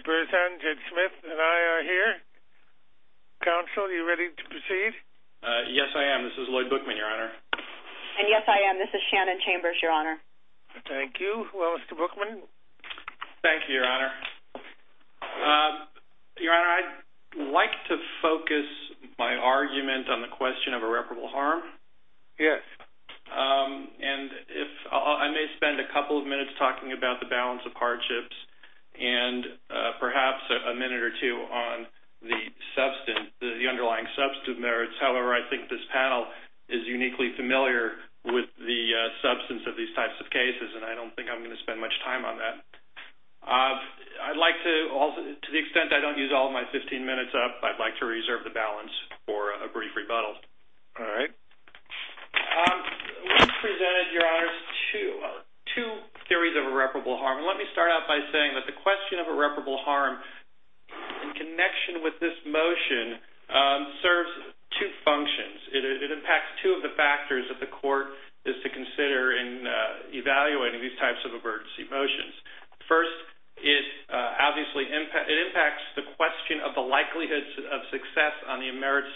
Bruce Hendrick Smith and I are here. Counsel, are you ready to proceed? Yes, I am. This is Lloyd Bookman, Your Honor. And yes, I am. This is Shannon Chambers, Your Honor. Thank you. Well, Mr. Bookman? Thank you, Your Honor. Your Honor, I'd like to focus my argument on the question of irreparable harm. Yes. And I may spend a couple of minutes talking about the balance of hardships and perhaps a minute or two on the underlying substantive merits. However, I think this panel is uniquely familiar with the substance of these types of cases, and I don't think I'm going to spend much time on that. I'd like to, to the extent I don't use all of my 15 minutes up, I'd like to reserve the balance for a brief rebuttal. All right. We've presented, Your Honors, two theories of irreparable harm. Let me start out by saying that the question of irreparable harm, in connection with this motion, serves two functions. It impacts two of the factors that the court is to consider in evaluating these types of emergency motions. First, it obviously impacts the question of the likelihood of success on the merits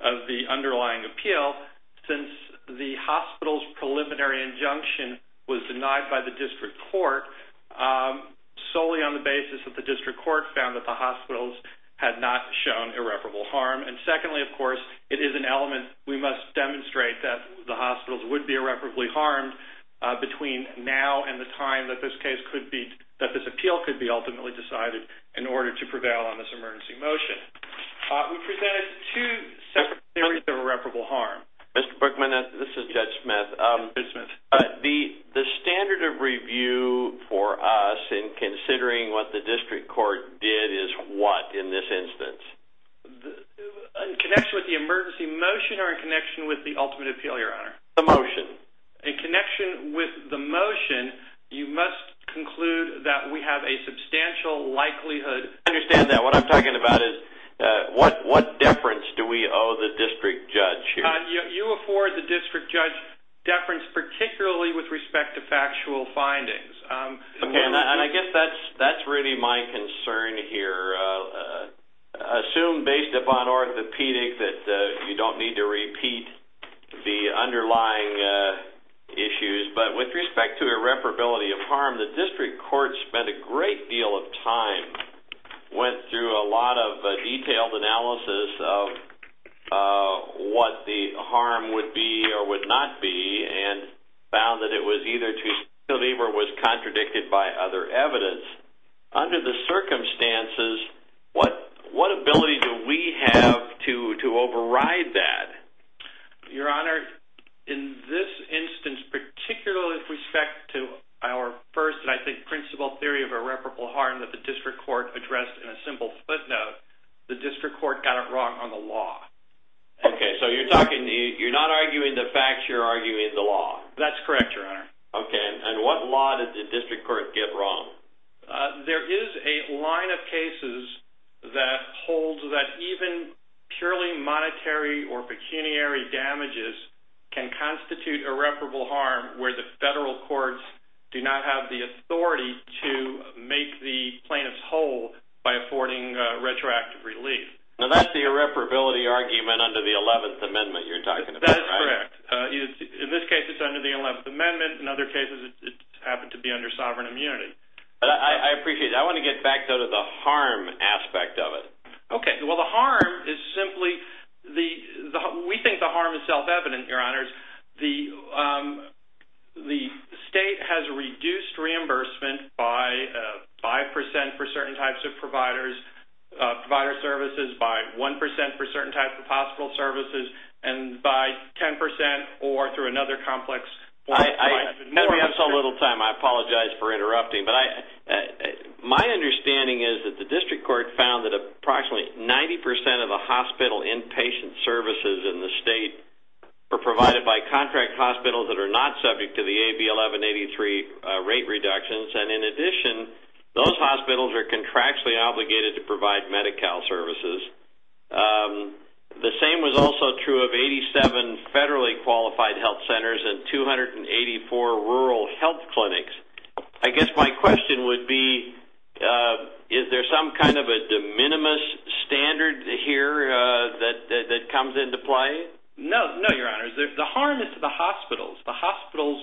of the underlying appeal. Since the hospital's preliminary injunction was denied by the district court, solely on the basis that the district court found that the hospitals had not shown irreparable harm. And secondly, of course, it is an element, we must demonstrate that the hospitals would be irreparably harmed between now and the time that this case could be, that this appeal could be ultimately decided in order to prevail on this emergency motion. We presented two separate theories of irreparable harm. Mr. Brookman, this is Judge Smith. Judge Smith. The standard of review for us in considering what the district court did is what, in this instance? In connection with the emergency motion or in connection with the ultimate appeal, Your Honor? The motion. In connection with the motion, you must conclude that we have a substantial likelihood... What deference do we owe the district judge here? You afford the district judge deference, particularly with respect to factual findings. Okay, and I guess that's really my concern here. Assume based upon orthopedic that you don't need to repeat the underlying issues. But with respect to irreparability of harm, the district court spent a great deal of time, went through a lot of detailed analysis of what the harm would be or would not be, and found that it was either too significant or was contradicted by other evidence. Under the circumstances, what ability do we have to override that? Your Honor, in this instance, particularly with respect to our first, I think, principle theory of irreparable harm that the district court addressed in a simple footnote, the district court got it wrong on the law. Okay, so you're not arguing the facts, you're arguing the law. That's correct, Your Honor. Okay, and what law did the district court get wrong? There is a line of cases that holds that even purely monetary or pecuniary damages can constitute irreparable harm where the federal courts do not have the authority to make the plaintiffs whole by affording retroactive relief. Now, that's the irreparability argument under the 11th Amendment you're talking about, right? That is correct. In this case, it's under the 11th Amendment. In other cases, it happened to be under sovereign immunity. I appreciate that. I want to get back, though, to the harm aspect of it. Okay, well, the harm is simply, we think the harm is self-evident, Your Honors. The state has reduced reimbursement by 5% for certain types of providers, provider services by 1% for certain types of hospital services, and by 10% or through another complex form of payment. We have so little time, I apologize for interrupting, but my understanding is that the district court found that approximately 90% of the hospital inpatient services in the state are provided by contract hospitals that are not subject to the AB 1183 rate reductions, and in addition, those hospitals are contractually obligated to provide Medi-Cal services. The same was also true of 87 federally qualified health centers and 284 rural health clinics. I guess my question would be, is there some kind of a de minimis standard here that comes into play? No, no, Your Honors. The harm is to the hospitals, the hospitals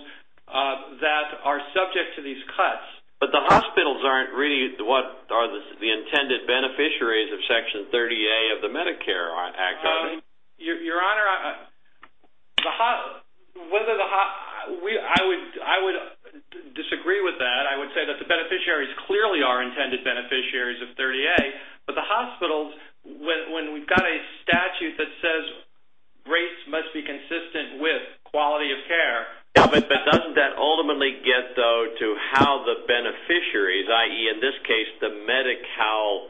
that are subject to these cuts. But the hospitals aren't really what are the intended beneficiaries of Section 30A of the Medicare Act, are they? Your Honor, I would disagree with that. I would say that the beneficiaries clearly are intended beneficiaries of 30A, but the hospitals, when we've got a statute that says rates must be consistent with quality of care. But doesn't that ultimately get, though, to how the beneficiaries, i.e., in this case, the Medi-Cal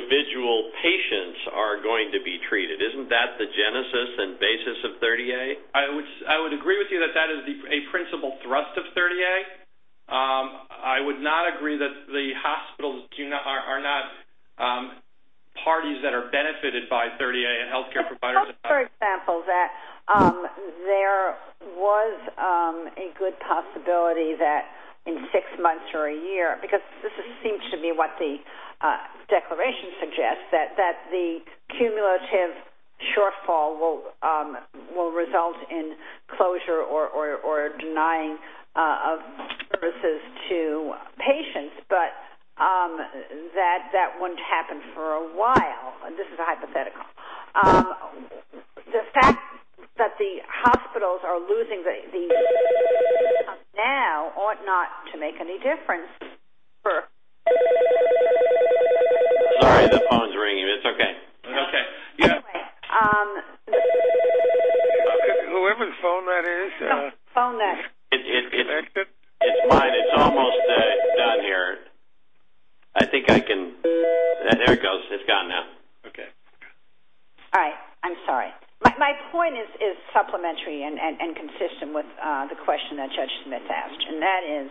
individual patients are going to be treated? Isn't that the genesis and basis of 30A? I would agree with you that that is a principal thrust of 30A. I would not agree that the hospitals are not parties that are benefited by 30A and health care providers. Suppose, for example, that there was a good possibility that in six months or a year, because this seems to me what the declaration suggests, that the cumulative shortfall will result in closure or denying of services to patients, but that that wouldn't happen for a while. This is a hypothetical. The fact that the hospitals are losing the... Now ought not to make any difference for... Sorry, the phone's ringing, but it's okay. Okay. Whoever's phone that is... It's mine. It's almost done here. I think I can... There it goes. It's gone now. Okay. All right. I'm sorry. My point is supplementary and consistent with the question that Judge Smith asked, and that is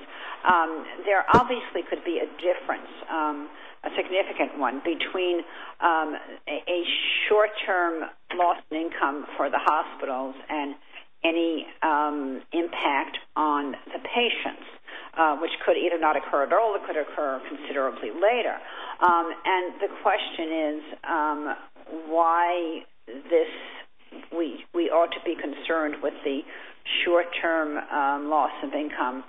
there obviously could be a difference, a significant one, between a short-term loss in income for the hospitals and any impact on the patients, which could either not occur at all or could occur considerably later. And the question is why this... We ought to be concerned with the short-term loss of income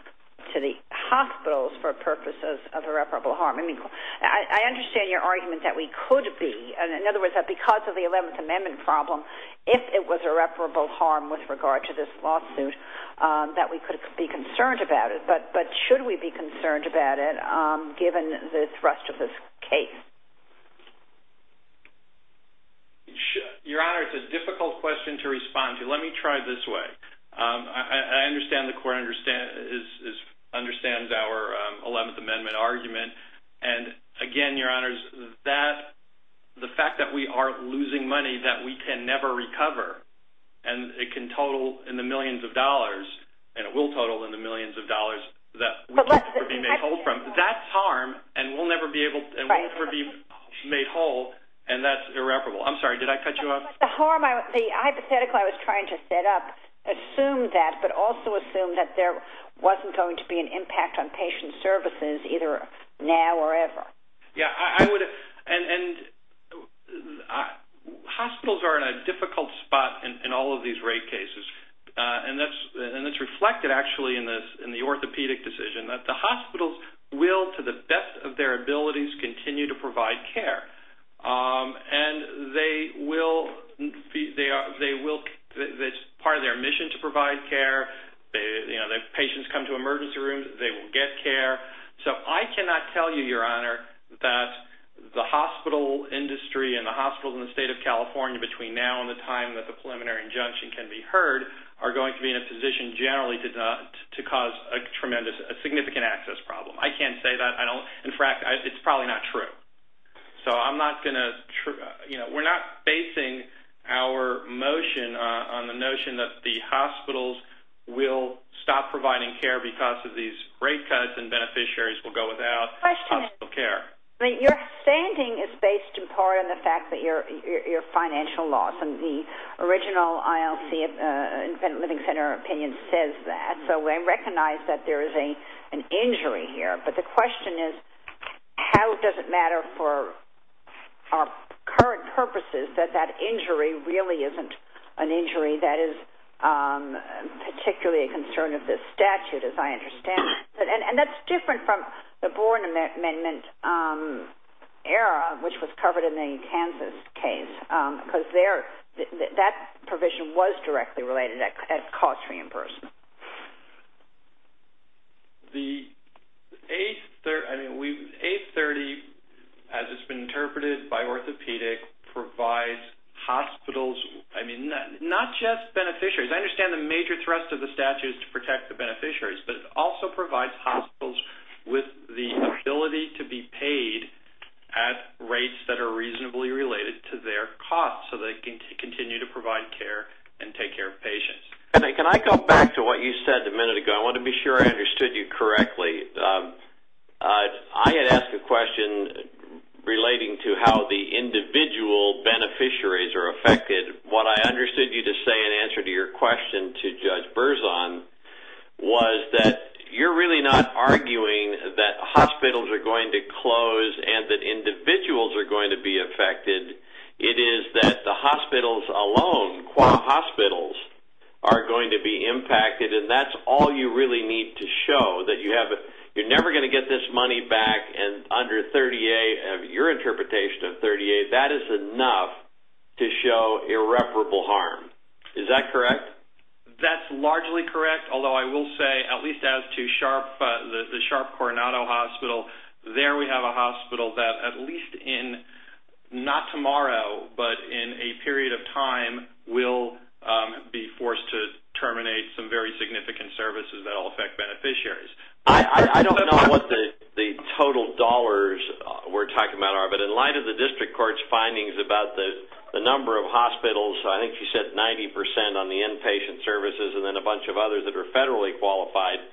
to the hospitals for purposes of irreparable harm. I mean, I understand your argument that we could be. In other words, that because of the 11th Amendment problem, if it was irreparable harm with regard to this lawsuit, that we could be concerned about it. But should we be concerned about it given the thrust of this case? Your Honor, it's a difficult question to respond to. Let me try it this way. I understand the court understands our 11th Amendment argument. And again, Your Honors, the fact that we are losing money that we can never recover and it can total in the millions of dollars and it will total in the millions of dollars that we'll never be made whole from, that's harm and we'll never be made whole and that's irreparable. I'm sorry, did I cut you off? The hypothetical I was trying to set up assumed that but also assumed that there wasn't going to be an impact on patient services either now or ever. Yeah, I would... Hospitals are in a difficult spot in all of these rape cases. And that's reflected actually in the orthopedic decision that the hospitals will, to the best of their abilities, continue to provide care. And they will... It's part of their mission to provide care. If patients come to emergency rooms, they will get care. So I cannot tell you, Your Honor, that the hospital industry and the hospitals in the state of California between now and the time that the preliminary injunction can be heard are going to be in a position generally to cause a significant access problem. I can't say that. In fact, it's probably not true. So I'm not going to... You know, we're not basing our motion on the notion that the hospitals will stop providing care because of these rape cuts and beneficiaries will go without hospital care. Your standing is based in part on the fact that you're a financial loss. And the original ILC Living Center opinion says that. So we recognize that there is an injury here. But the question is, how does it matter for our current purposes that that injury really isn't an injury that is particularly a concern of this statute, as I understand it? And that's different from the Boren Amendment era, which was covered in the Kansas case, because that provision was directly related at cost to reimbursement. The 830, as it's been interpreted by orthopedic, provides hospitals, I mean, not just beneficiaries. I understand the major thrust of the statute is to protect the beneficiaries, but it also provides hospitals with the ability to be paid at rates that are reasonably related to their costs so they can continue to provide care and take care of patients. Can I go back to what you said a minute ago? I want to be sure I understood you correctly. I had asked a question relating to how the individual beneficiaries are affected. What I understood you to say in answer to your question to Judge Berzon was that you're really not arguing that hospitals are going to close and that individuals are going to be affected. It is that the hospitals alone, hospitals are going to be impacted, and that's all you really need to show, that you're never going to get this money back and under 30A, your interpretation of 30A, that is enough to show irreparable harm. Is that correct? That's largely correct, although I will say, at least as to SHARP, the SHARP Coronado Hospital, there we have a hospital that at least in, not tomorrow, but in a period of time will be forced to terminate some very significant services that will affect beneficiaries. I don't know what the total dollars we're talking about are, but in light of the district court's findings about the number of hospitals, I think you said 90% on the inpatient services and then a bunch of others that are federally qualified,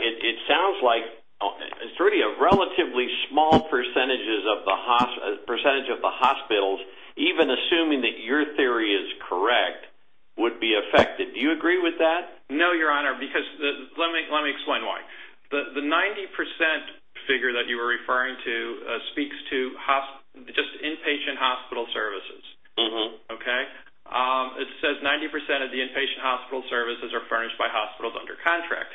it sounds like it's really a relatively small percentage of the hospitals, even assuming that your theory is correct, would be affected. Do you agree with that? No, Your Honor, because let me explain why. The 90% figure that you were referring to speaks to just inpatient hospital services. It says 90% of the inpatient hospital services are furnished by hospitals under contract.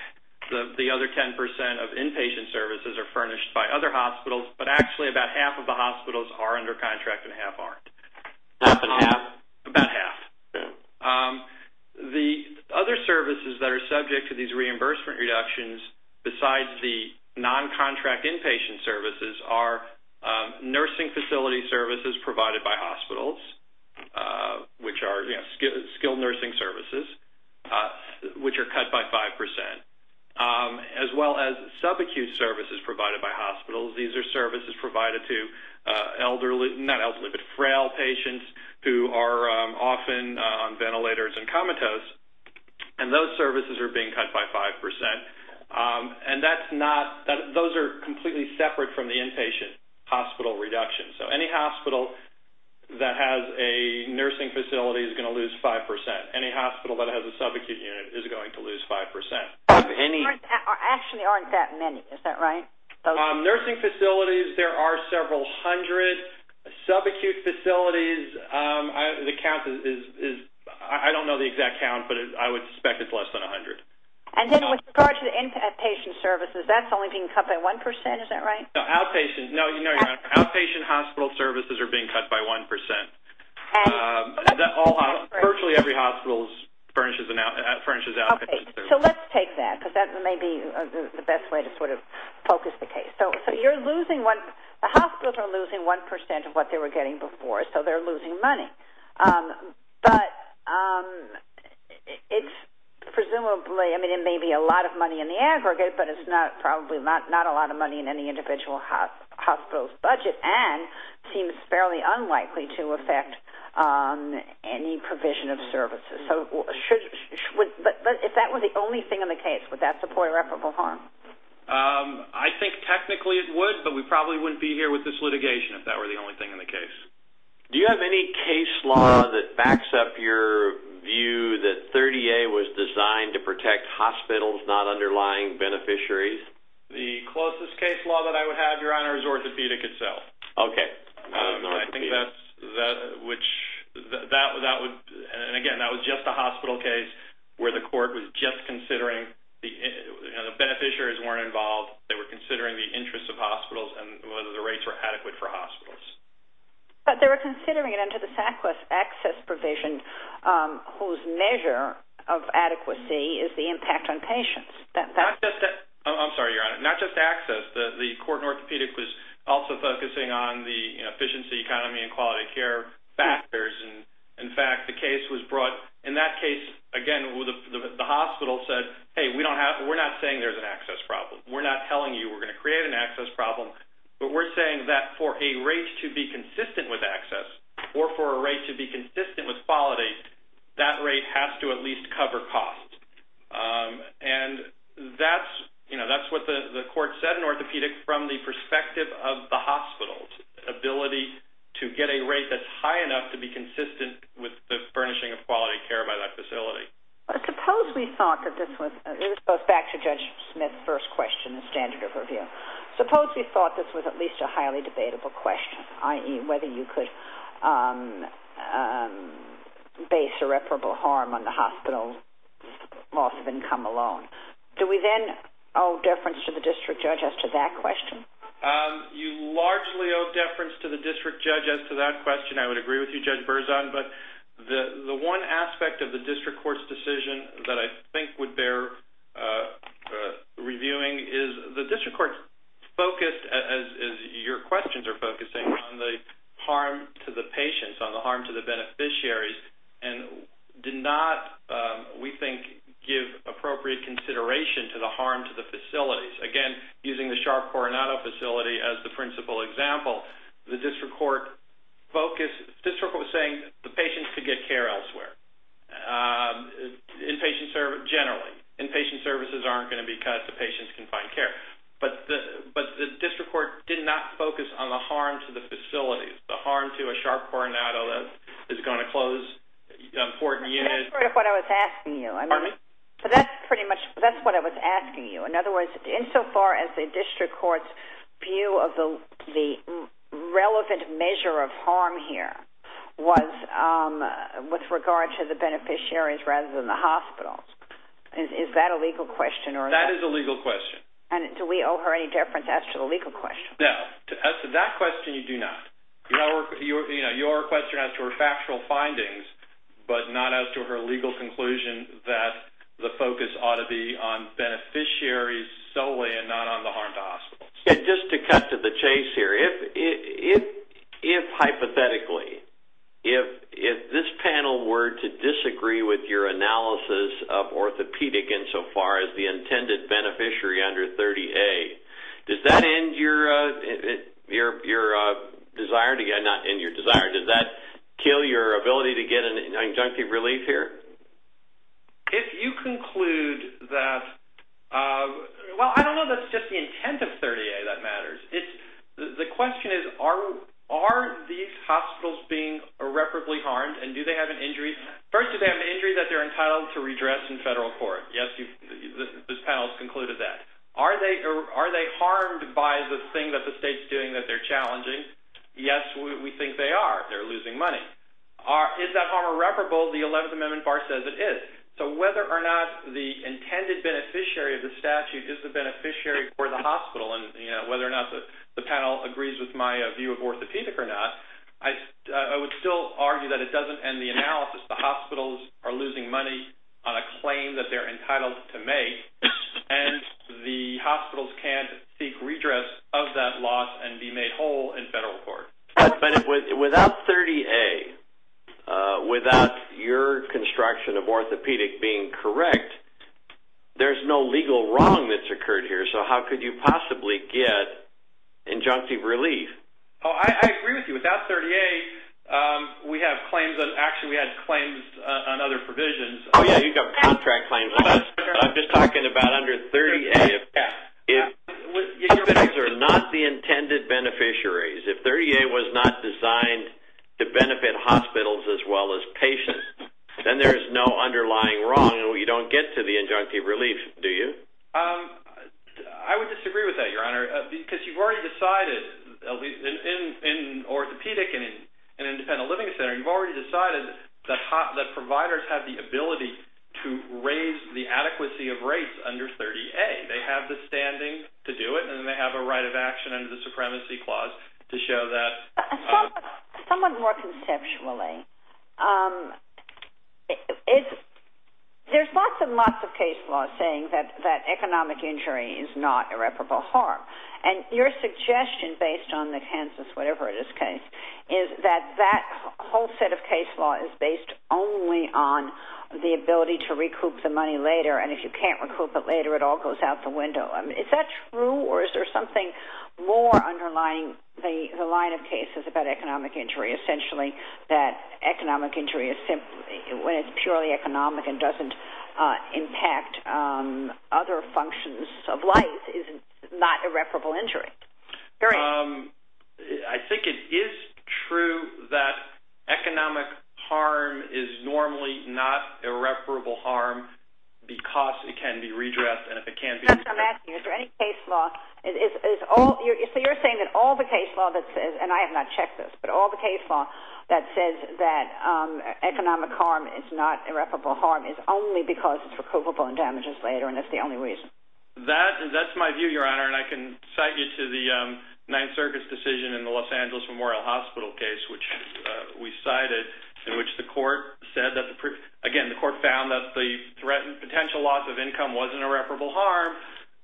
The other 10% of inpatient services are furnished by other hospitals, but actually about half of the hospitals are under contract and half aren't. About half. The other services that are subject to these reimbursement reductions besides the non-contract inpatient services are nursing facility services provided by hospitals which are skilled nursing services which are cut by 5%. As well as sub-acute services provided by hospitals. These are services provided to frail patients who are often on ventilators and comatose and those services are being cut by 5%. Those are completely separate from the inpatient hospital reduction. Any hospital that has a nursing facility is going to lose 5%. Any hospital that has a sub-acute unit is going to lose 5%. There actually aren't that many. Is that right? Nursing facilities, there are several hundred. Sub-acute facilities the count is I don't know the exact count but I would suspect it's less than 100. With regard to the inpatient services, that's only being cut by 1%. Outpatient hospital services are being cut by 1%. Virtually every hospital furnishes outpatient services. So let's take that because that may be the best way to focus the case. The hospitals are losing 1% of what they were getting before so they're losing money. Presumably it may be a lot of money in the aggregate but it's probably not a lot of money in any individual hospital's budget and seems fairly unlikely to affect any provision of services. If that were the only thing in the case would that support irreparable harm? I think technically it would but we probably wouldn't be here with this litigation if that were the only thing in the case. Do you have any case law that backs up your view that 30A was designed to protect hospitals, not underlying beneficiaries? The closest case law that I would have, Your Honor, is orthopedic itself. Okay. I think that's and again that was just a hospital case where the court was just considering the beneficiaries weren't involved they were considering the interests of hospitals and whether the rates were adequate for hospitals. But they were considering it under the SACWIS access provision whose measure of adequacy is the impact on patients. I'm sorry, Your Honor, not just access the court in orthopedic was also focusing on the efficiency, economy and quality of care factors and in fact the case was brought in that case again the hospital said, hey we're not saying there's an access problem we're not telling you we're going to create an access problem but we're saying that for a rate to be consistent with access or for a rate to be consistent with quality that rate has to at least cover cost and that's what the court said in orthopedic from the perspective of the hospital ability to get a rate that's high enough to be consistent with the furnishing of quality care by that facility. Suppose we thought that this was back to Judge Smith's first question the standard of review suppose we thought this was at least a highly debatable question i.e. whether you could base irreparable harm on the hospital's loss of income alone do we then owe deference to the district judge as to that question? You largely owe deference to the district judge as to that question I would agree with you Judge Berzon but the one aspect of the district court's decision that I think would bear reviewing is the district court focused as your questions are focusing on the harm to the patients on the harm to the beneficiaries and did not we think give appropriate consideration to the harm to the facilities again using the Sharp Coronado facility as the principal example the district court was saying the patients could get care elsewhere generally inpatient services aren't going to be cut the patients can find care but the district court did not the harm to the facilities the harm to a Sharp Coronado is going to close important units that's what I was asking you in other words insofar as the district court's view of the relevant measure of harm here was with regard to the beneficiaries rather than the hospitals is that a legal question? that is a legal question do we owe her any deference as to the legal question? no, as to that question you do not your question as to her factual findings but not as to her legal conclusion that the focus ought to be on beneficiaries solely and not on the harm to hospitals just to cut to the chase here if hypothetically if this panel were to disagree with your analysis of orthopedic insofar as the intended beneficiary under 30A does that end your desire not end your desire does that kill your ability to get an injunctive relief here? if you conclude that well I don't know if that's just the intent of 30A that matters the question is are these hospitals being irreparably harmed and do they have an injury first do they have an injury that they're entitled to redress in federal court this panel has concluded that are they harmed by the thing that the state's doing that they're challenging yes we think they are they're losing money is that harm irreparable the 11th amendment bar says it is so whether or not the intended beneficiary of the statute is the beneficiary for the hospital whether or not the panel agrees with my view of orthopedic or not I would still argue that it doesn't end the analysis the hospitals are losing money on a claim that they're entitled to make and the hospitals can't seek redress of that loss and be made whole in federal court without 30A without your construction of orthopedic being correct there's no legal wrong that's occurred here so how could you possibly get injunctive relief I agree with you without 30A we have claims on other provisions you've got contract claims I'm just talking about under 30A if those are not the intended beneficiaries if 30A was not designed to benefit hospitals as well as patients then there's no underlying wrong you don't get to the injunctive relief do you I would disagree with that your honor because you've already decided in orthopedic and in independent living center you've already decided that providers have the ability to raise the adequacy of rates under 30A they have the standing to do it and they have a right of action under the supremacy clause to show that somewhat more conceptually there's lots and lots of case laws saying that economic injury is not irreparable harm and your suggestion based on the Kansas whatever it is case is that that whole set of case law is based only on the ability to recoup the money later and if you can't recoup it later it all goes out the window is that true or is there something more underlying the line of cases about economic injury essentially that economic injury when it's purely economic and doesn't impact other functions of life is not irreparable injury I think it is true that economic harm is normally not irreparable harm because it can be redressed and if it can't be redressed is there any case law you're saying that all the case law and I have not checked this but all the case law that says that economic harm is not irreparable harm is only because it's recoupable and damages later and that's the only reason that's my view your honor and I can cite you to the 9th Circus decision in the Los Angeles Memorial Hospital case which we cited in which the court said again the court found that the potential loss of income wasn't irreparable harm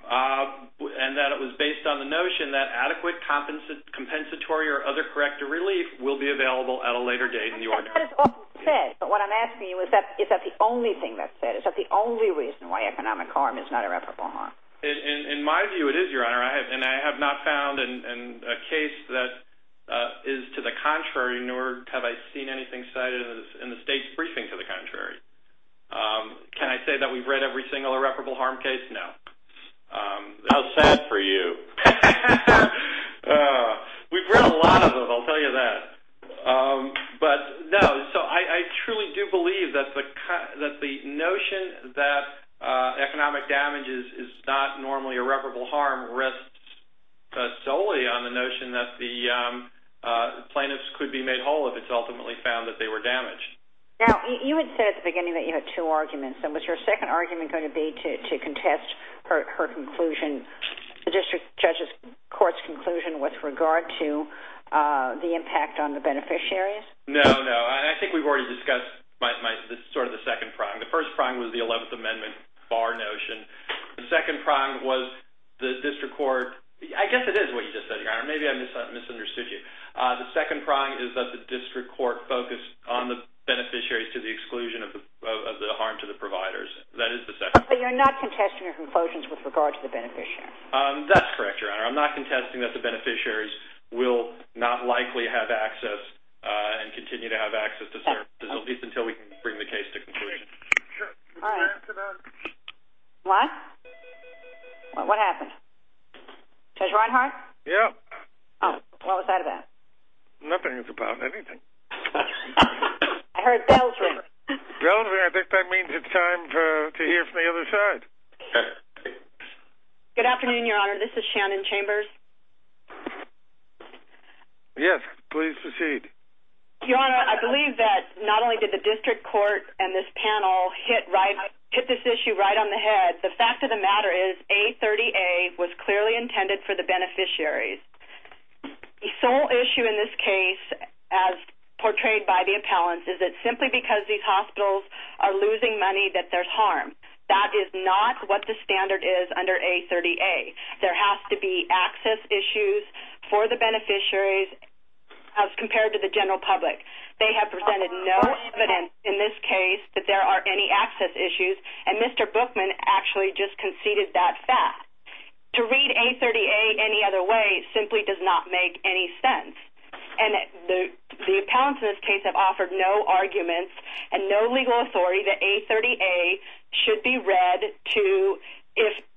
and that it was based on the notion that adequate compensatory or other corrective relief will be available at a later date in the order but what I'm asking you is that is that the only reason why economic harm is not irreparable harm in my view it is your honor and I have not found a case that is to the contrary nor have I seen anything cited in the state's briefing to the contrary can I say that we've read every single irreparable harm case? No how sad for you we've read a lot of them I'll tell you that but no I truly do believe that the notion that economic damage is not normally irreparable harm rests solely on the notion that the plaintiffs could be made whole if it's ultimately found that they were damaged you had said at the beginning that you had two arguments was your second argument going to be to contest her conclusion the district judge's court's conclusion with regard to the impact on the beneficiaries? no no I think we've already discussed sort of the second prong the first prong was the 11th amendment the second prong was the district court I guess it is what you just said your honor maybe I misunderstood you the second prong is that the district court focused on the beneficiaries to the exclusion of the harm to the providers that is the second prong but you're not contesting her conclusions with regard to the beneficiaries that's correct your honor I'm not contesting that the beneficiaries will not likely have access and continue to have access to services at least until we can bring the case to conclusion what? what? what happened? Judge Reinhart? what was that about? nothing it's about anything I heard bells ring bells ring I think that means it's time to hear from the other side good afternoon your honor this is Shannon Chambers yes please proceed your honor I believe that not only did the district court and this panel hit this issue right on the head the fact of the matter is A30A was clearly intended for the beneficiaries the sole issue in this case as portrayed by the appellants is that simply because these hospitals are losing money that there's harm that is not what the standard is under A30A there has to be access issues for the beneficiaries as compared to the general public they have presented no evidence in this case that there are any access issues and Mr. Bookman actually just conceded that fact to read A30A any other way simply does not make any sense and the appellants in this case have offered no arguments and no legal authority that A30A should be read to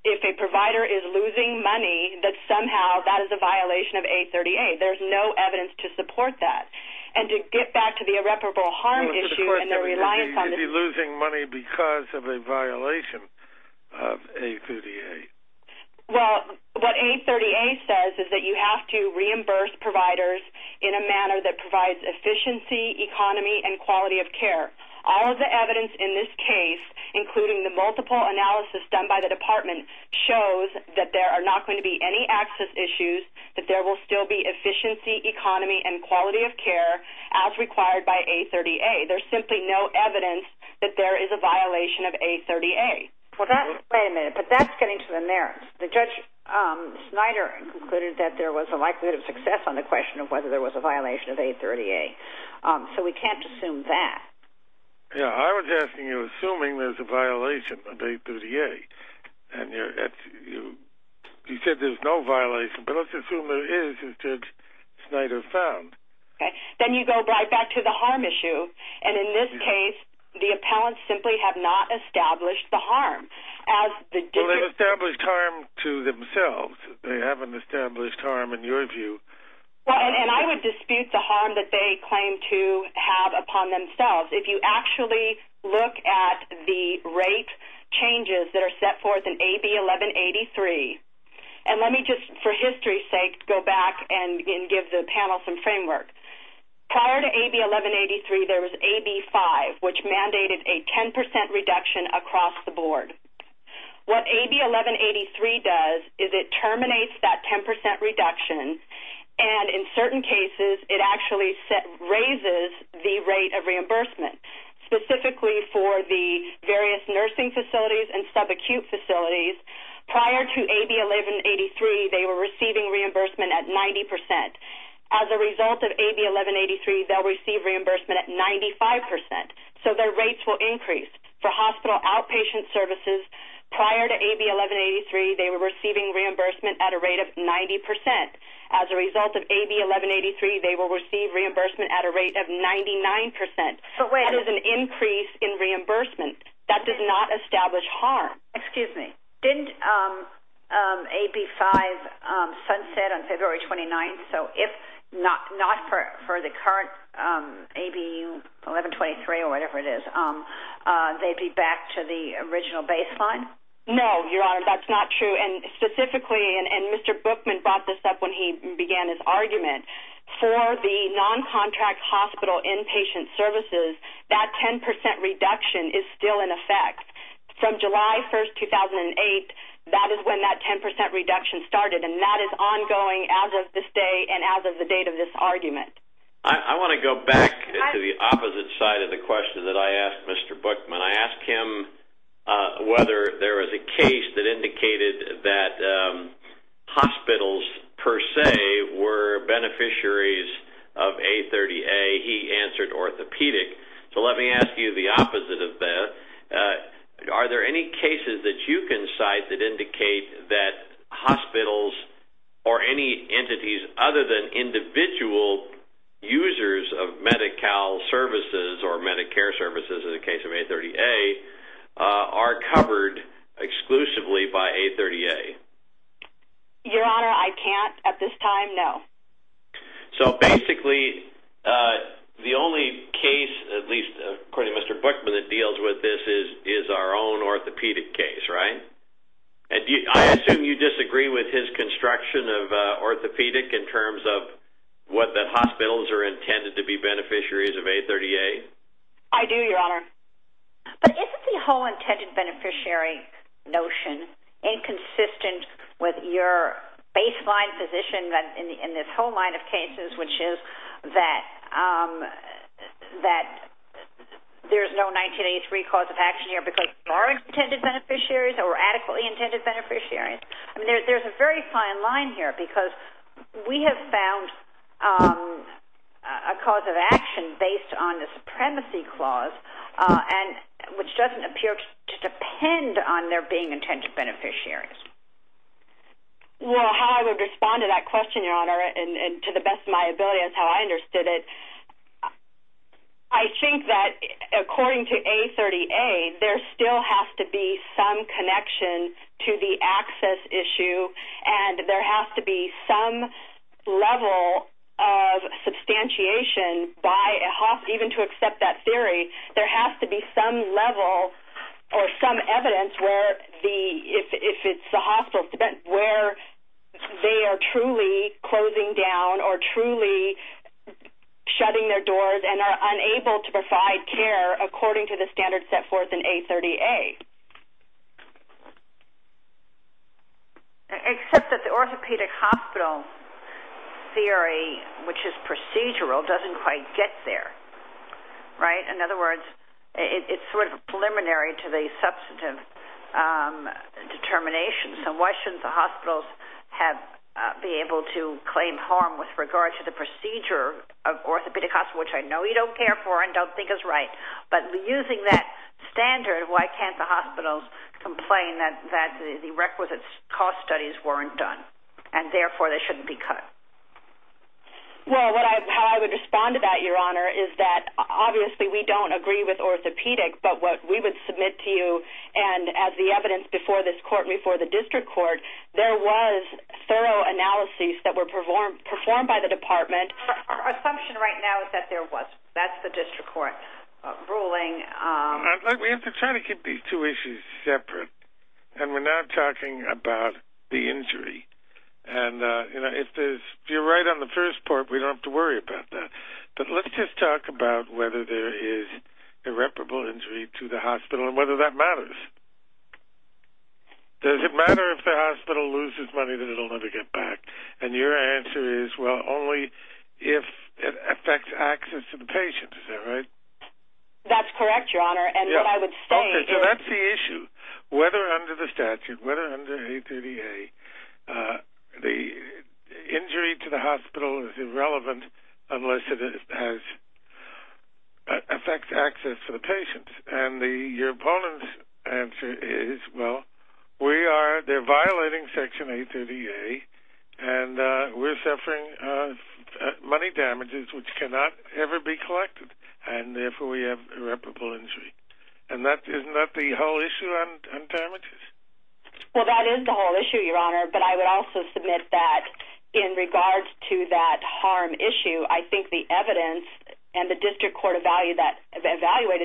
if a provider is losing money that somehow that is a violation of A30A there's no evidence to support that and to get back to the irreparable harm issue and the reliance on is he losing money because of a violation of A30A well what A30A says is that you have to reimburse providers in a manner that provides efficiency, economy and quality of care all of the evidence in this case including the multiple analysis done by the there's not going to be any access issues that there will still be efficiency, economy and quality of care as required by A30A there's simply no evidence that there is a violation of A30A wait a minute but that's getting to the merits the judge Snyder concluded that there was a likelihood of success on the question of whether there was a violation of A30A so we can't assume that I was asking you assuming there's a violation of A30A and you're you said there's no violation but let's assume there is Snyder found then you go right back to the harm issue and in this case the appellants simply have not established the harm well they've established harm to themselves they haven't established harm in your view and I would dispute the harm that they claim to have upon themselves if you actually look at the rate changes that are set forth in AB1183 and let me just for history's sake go back and give the panel some framework prior to AB1183 there was AB5 which mandated a 10% reduction across the board what AB1183 does is it terminates that 10% reduction and in certain cases it actually raises the rate of reimbursement specifically for the various nursing facilities and subacute facilities prior to AB1183 they were receiving reimbursement at 90% as a result of AB1183 they'll receive reimbursement at 95% so their rates will increase for hospital outpatient services prior to AB1183 they were receiving reimbursement at a rate of 90% as a result of AB1183 they will receive reimbursement at a rate of 99% that is an increase in reimbursement that does not establish harm excuse me didn't AB5 sunset on February 29th so if not for the current AB1123 or whatever it is they'd be back to the original baseline no your honor that's not true specifically and Mr. Bookman brought this up when he began his argument for the non contract hospital inpatient services that 10% reduction is still in effect from July 1st 2008 that is when that 10% reduction started and that is ongoing as of this day and as of the date of this argument I want to go back to the opposite side of the question that I asked Mr. Bookman I asked him whether there was a case that indicated that hospitals per se were beneficiaries of A30A he answered orthopedic so let me ask you the opposite of that are there any cases that you can cite that indicate that hospitals or any entities other than individual users of MediCal services or Medicare services in the case of A30A are covered exclusively by A30A your honor I can't at this time no so basically the only case at least according to Mr. Bookman that deals with this is our own orthopedic case right I assume you disagree with his construction of orthopedic in terms of what the hospitals are intended to be beneficiaries of A30A I do your honor but isn't the whole intended beneficiary notion inconsistent with your baseline position in this whole line of cases which is that there's no 1983 cause of action here because there are intended beneficiaries or adequately intended beneficiaries there's a very fine line here because we have found a cause of action based on the supremacy clause which doesn't appear to depend on there being intended beneficiaries well how I would respond to that question your honor to the best of my ability is how I understood it I think that according to A30A there still has to be some connection to the access issue and there has to be some level of substantiation by even to accept that theory there has to be some level or some evidence where if it's the hospital where they are truly closing down or truly shutting their doors and are unable to provide care according to the standard set forth in A30A except that the orthopedic hospital theory which is procedural doesn't quite get there right in other words it's sort of preliminary to the substantive determination so why shouldn't the hospitals have be able to claim harm with regard to the procedure of orthopedic hospital which I know you don't care for and don't think is right but using that standard why can't the hospitals complain that the requisite cost studies weren't done and therefore they shouldn't be cut well how I would respond to that your honor is that obviously we don't agree with orthopedic but what we would submit to you and as the evidence before this court and before the district court there was thorough analyses that were performed by the department our assumption right now is that there wasn't that's the district court ruling we have to try to keep these two issues separate and we're now talking about the injury and if you're right on the first part we don't have to worry about that but let's just talk about whether there is irreparable injury to the hospital and whether that matters does it matter if the hospital loses money that it will never get back and your answer is well only if it affects access to the patient is that right that's correct your honor and what I would say whether under the statute whether under 838 the injury to the hospital is irrelevant unless it affects access to the patient and your opponent's answer is well they're violating section 838 and we're suffering money damages which cannot ever be collected and therefore we have irreparable injury and isn't that the whole issue on damages well that is the whole issue your honor but I would also submit that in regards to that harm issue I think the evidence and the district court evaluated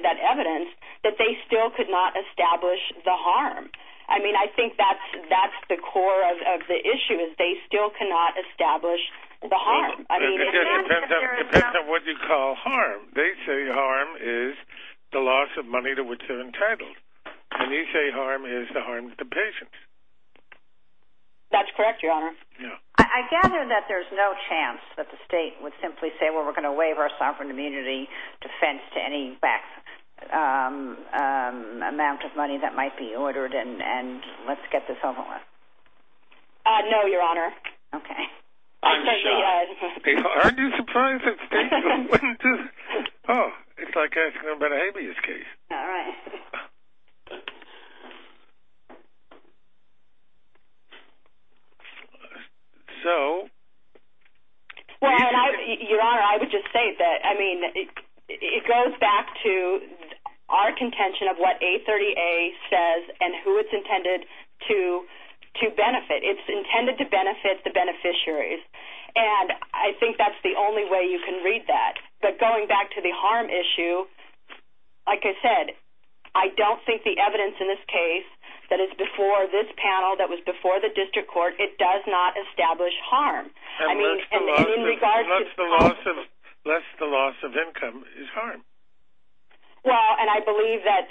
that evidence that they still could not establish the harm I mean I think that's the core of the issue is they still cannot establish the harm it depends on what you call harm they say harm is the loss of money to which they're entitled and you say harm is the harm to patients that's correct your honor I gather that there's no chance that the state would simply say well we're going to waive our sovereign immunity defense to any back amount of money that might be ordered and let's get this over with no your honor okay aren't you surprised that states wouldn't do oh it's like asking about a habeas case alright so well your honor I would just say that it goes back to our contention of what A30A says and who it's intended to benefit it's intended to benefit the beneficiaries and I think that's the only way you can read that but going back to the harm issue like I said I don't think the evidence in this case that is before this panel that was before the district court it does not establish harm unless the loss of income is harm well and I believe that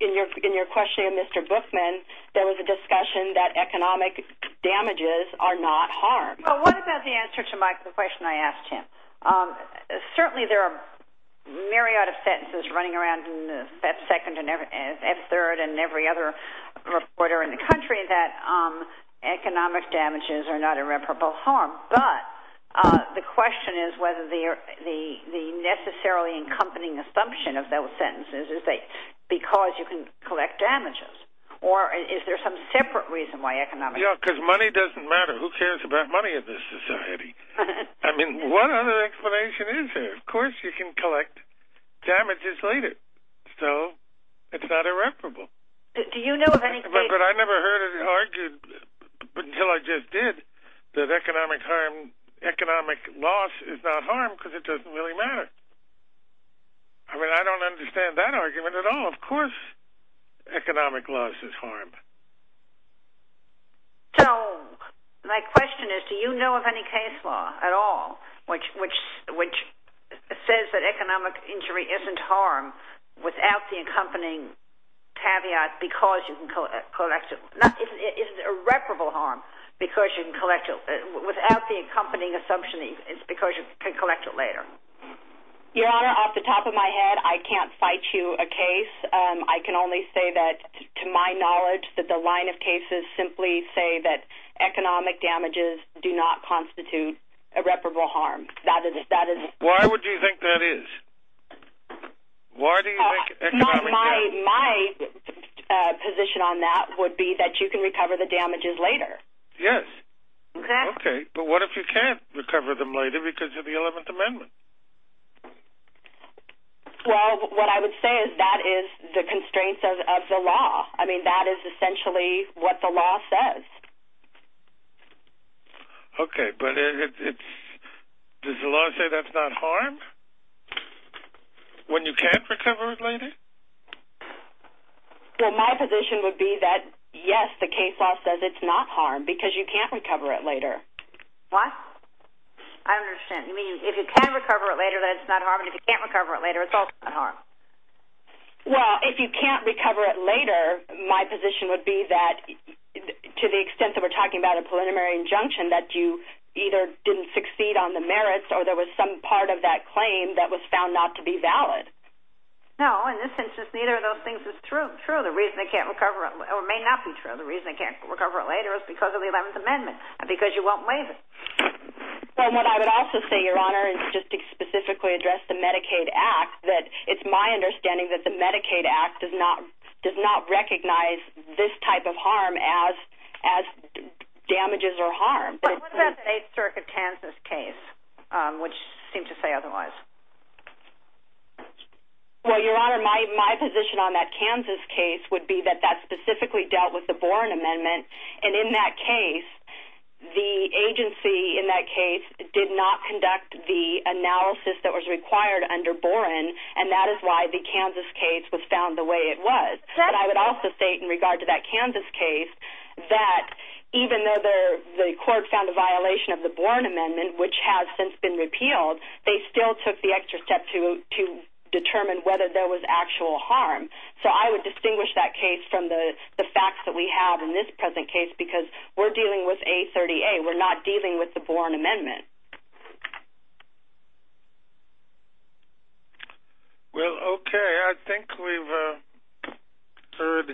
in your questioning of Mr. Bookman there was a discussion that economic damages are not harm well what about the answer to the question I asked him certainly there are myriad of sentences running around in the second and third and every other reporter in the country that economic damages are not irreparable harm but the question is whether the necessarily accompanying assumption of those sentences is that because you can collect damages or is there some separate reason why economic damages yeah because money doesn't matter who cares about money in this society I mean what other explanation is there of course you can collect damages later so it's not irreparable do you know of any case but I never heard it argued until I just did that economic loss is not harm because it doesn't really matter I mean I don't understand that argument at all of course economic loss is harm so my question is do you know of any case law at all which says that economic injury isn't harm without the accompanying caveat because you can collect it is irreparable harm because you can collect it without the accompanying assumption it's because you can collect it later your honor off the top of my head I can't fight you a case I can only say that to my knowledge that the line of cases simply say that economic damages do not constitute irreparable harm that is why would you think that is why do you think my position on that would be that you can recover the damages later yes ok but what if you can't recover them later because of the 11th amendment well what I would say is that is the constraints of the law I mean that is essentially what the law says ok but it's does the law say that's not harm when you can't recover it later well my position would be that yes the case law says it's not harm because you can't recover it later I don't understand you mean if you can recover it later then it's not harm if you can't recover it later it's also not harm well if you can't recover it later my position would be that to the extent that we're talking about a preliminary injunction that you either didn't succeed on the merits or there was some part of that claim that was found not to be valid no in this instance neither of those things is true the reason they can't recover it or may not be true the reason they can't recover it later is because of the 11th amendment because you won't waive it well what I would also say your your position on the medicaid act it's my understanding that the medicaid act does not recognize this type of harm as damages or harm but what about the 8th circuit Kansas case which seem to say otherwise well your honor my position on that Kansas case would be that that specifically dealt with the boron amendment and in that case the agency in that case did not conduct the analysis that was required under boron and that is why the Kansas case was found the way it was and I would also state in regard to that Kansas case that even though the court found a violation of the boron amendment which has since been repealed they still took the extra step to determine whether there was actual harm so I would distinguish that case from the facts that we have in this present case because we're dealing with A30A we're not dealing with the boron amendment well okay I think we've heard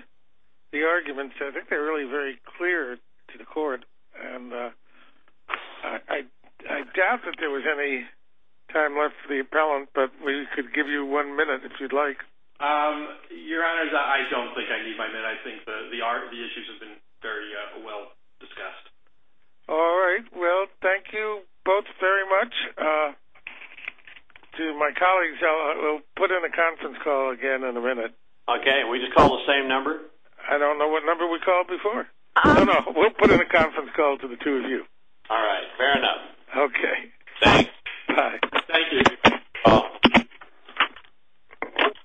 the arguments I think they're really very clear to the court and I doubt that there was any time left for the appellant but we could give you one minute if you'd like your honor I don't think I need my minute I think the issues have been very well discussed alright well thank you both very much to my colleagues we'll put in a conference call again in a minute okay we just call the same number? I don't know what number we called before no no we'll put in a conference call to the two of you alright fair enough thanks bye thank you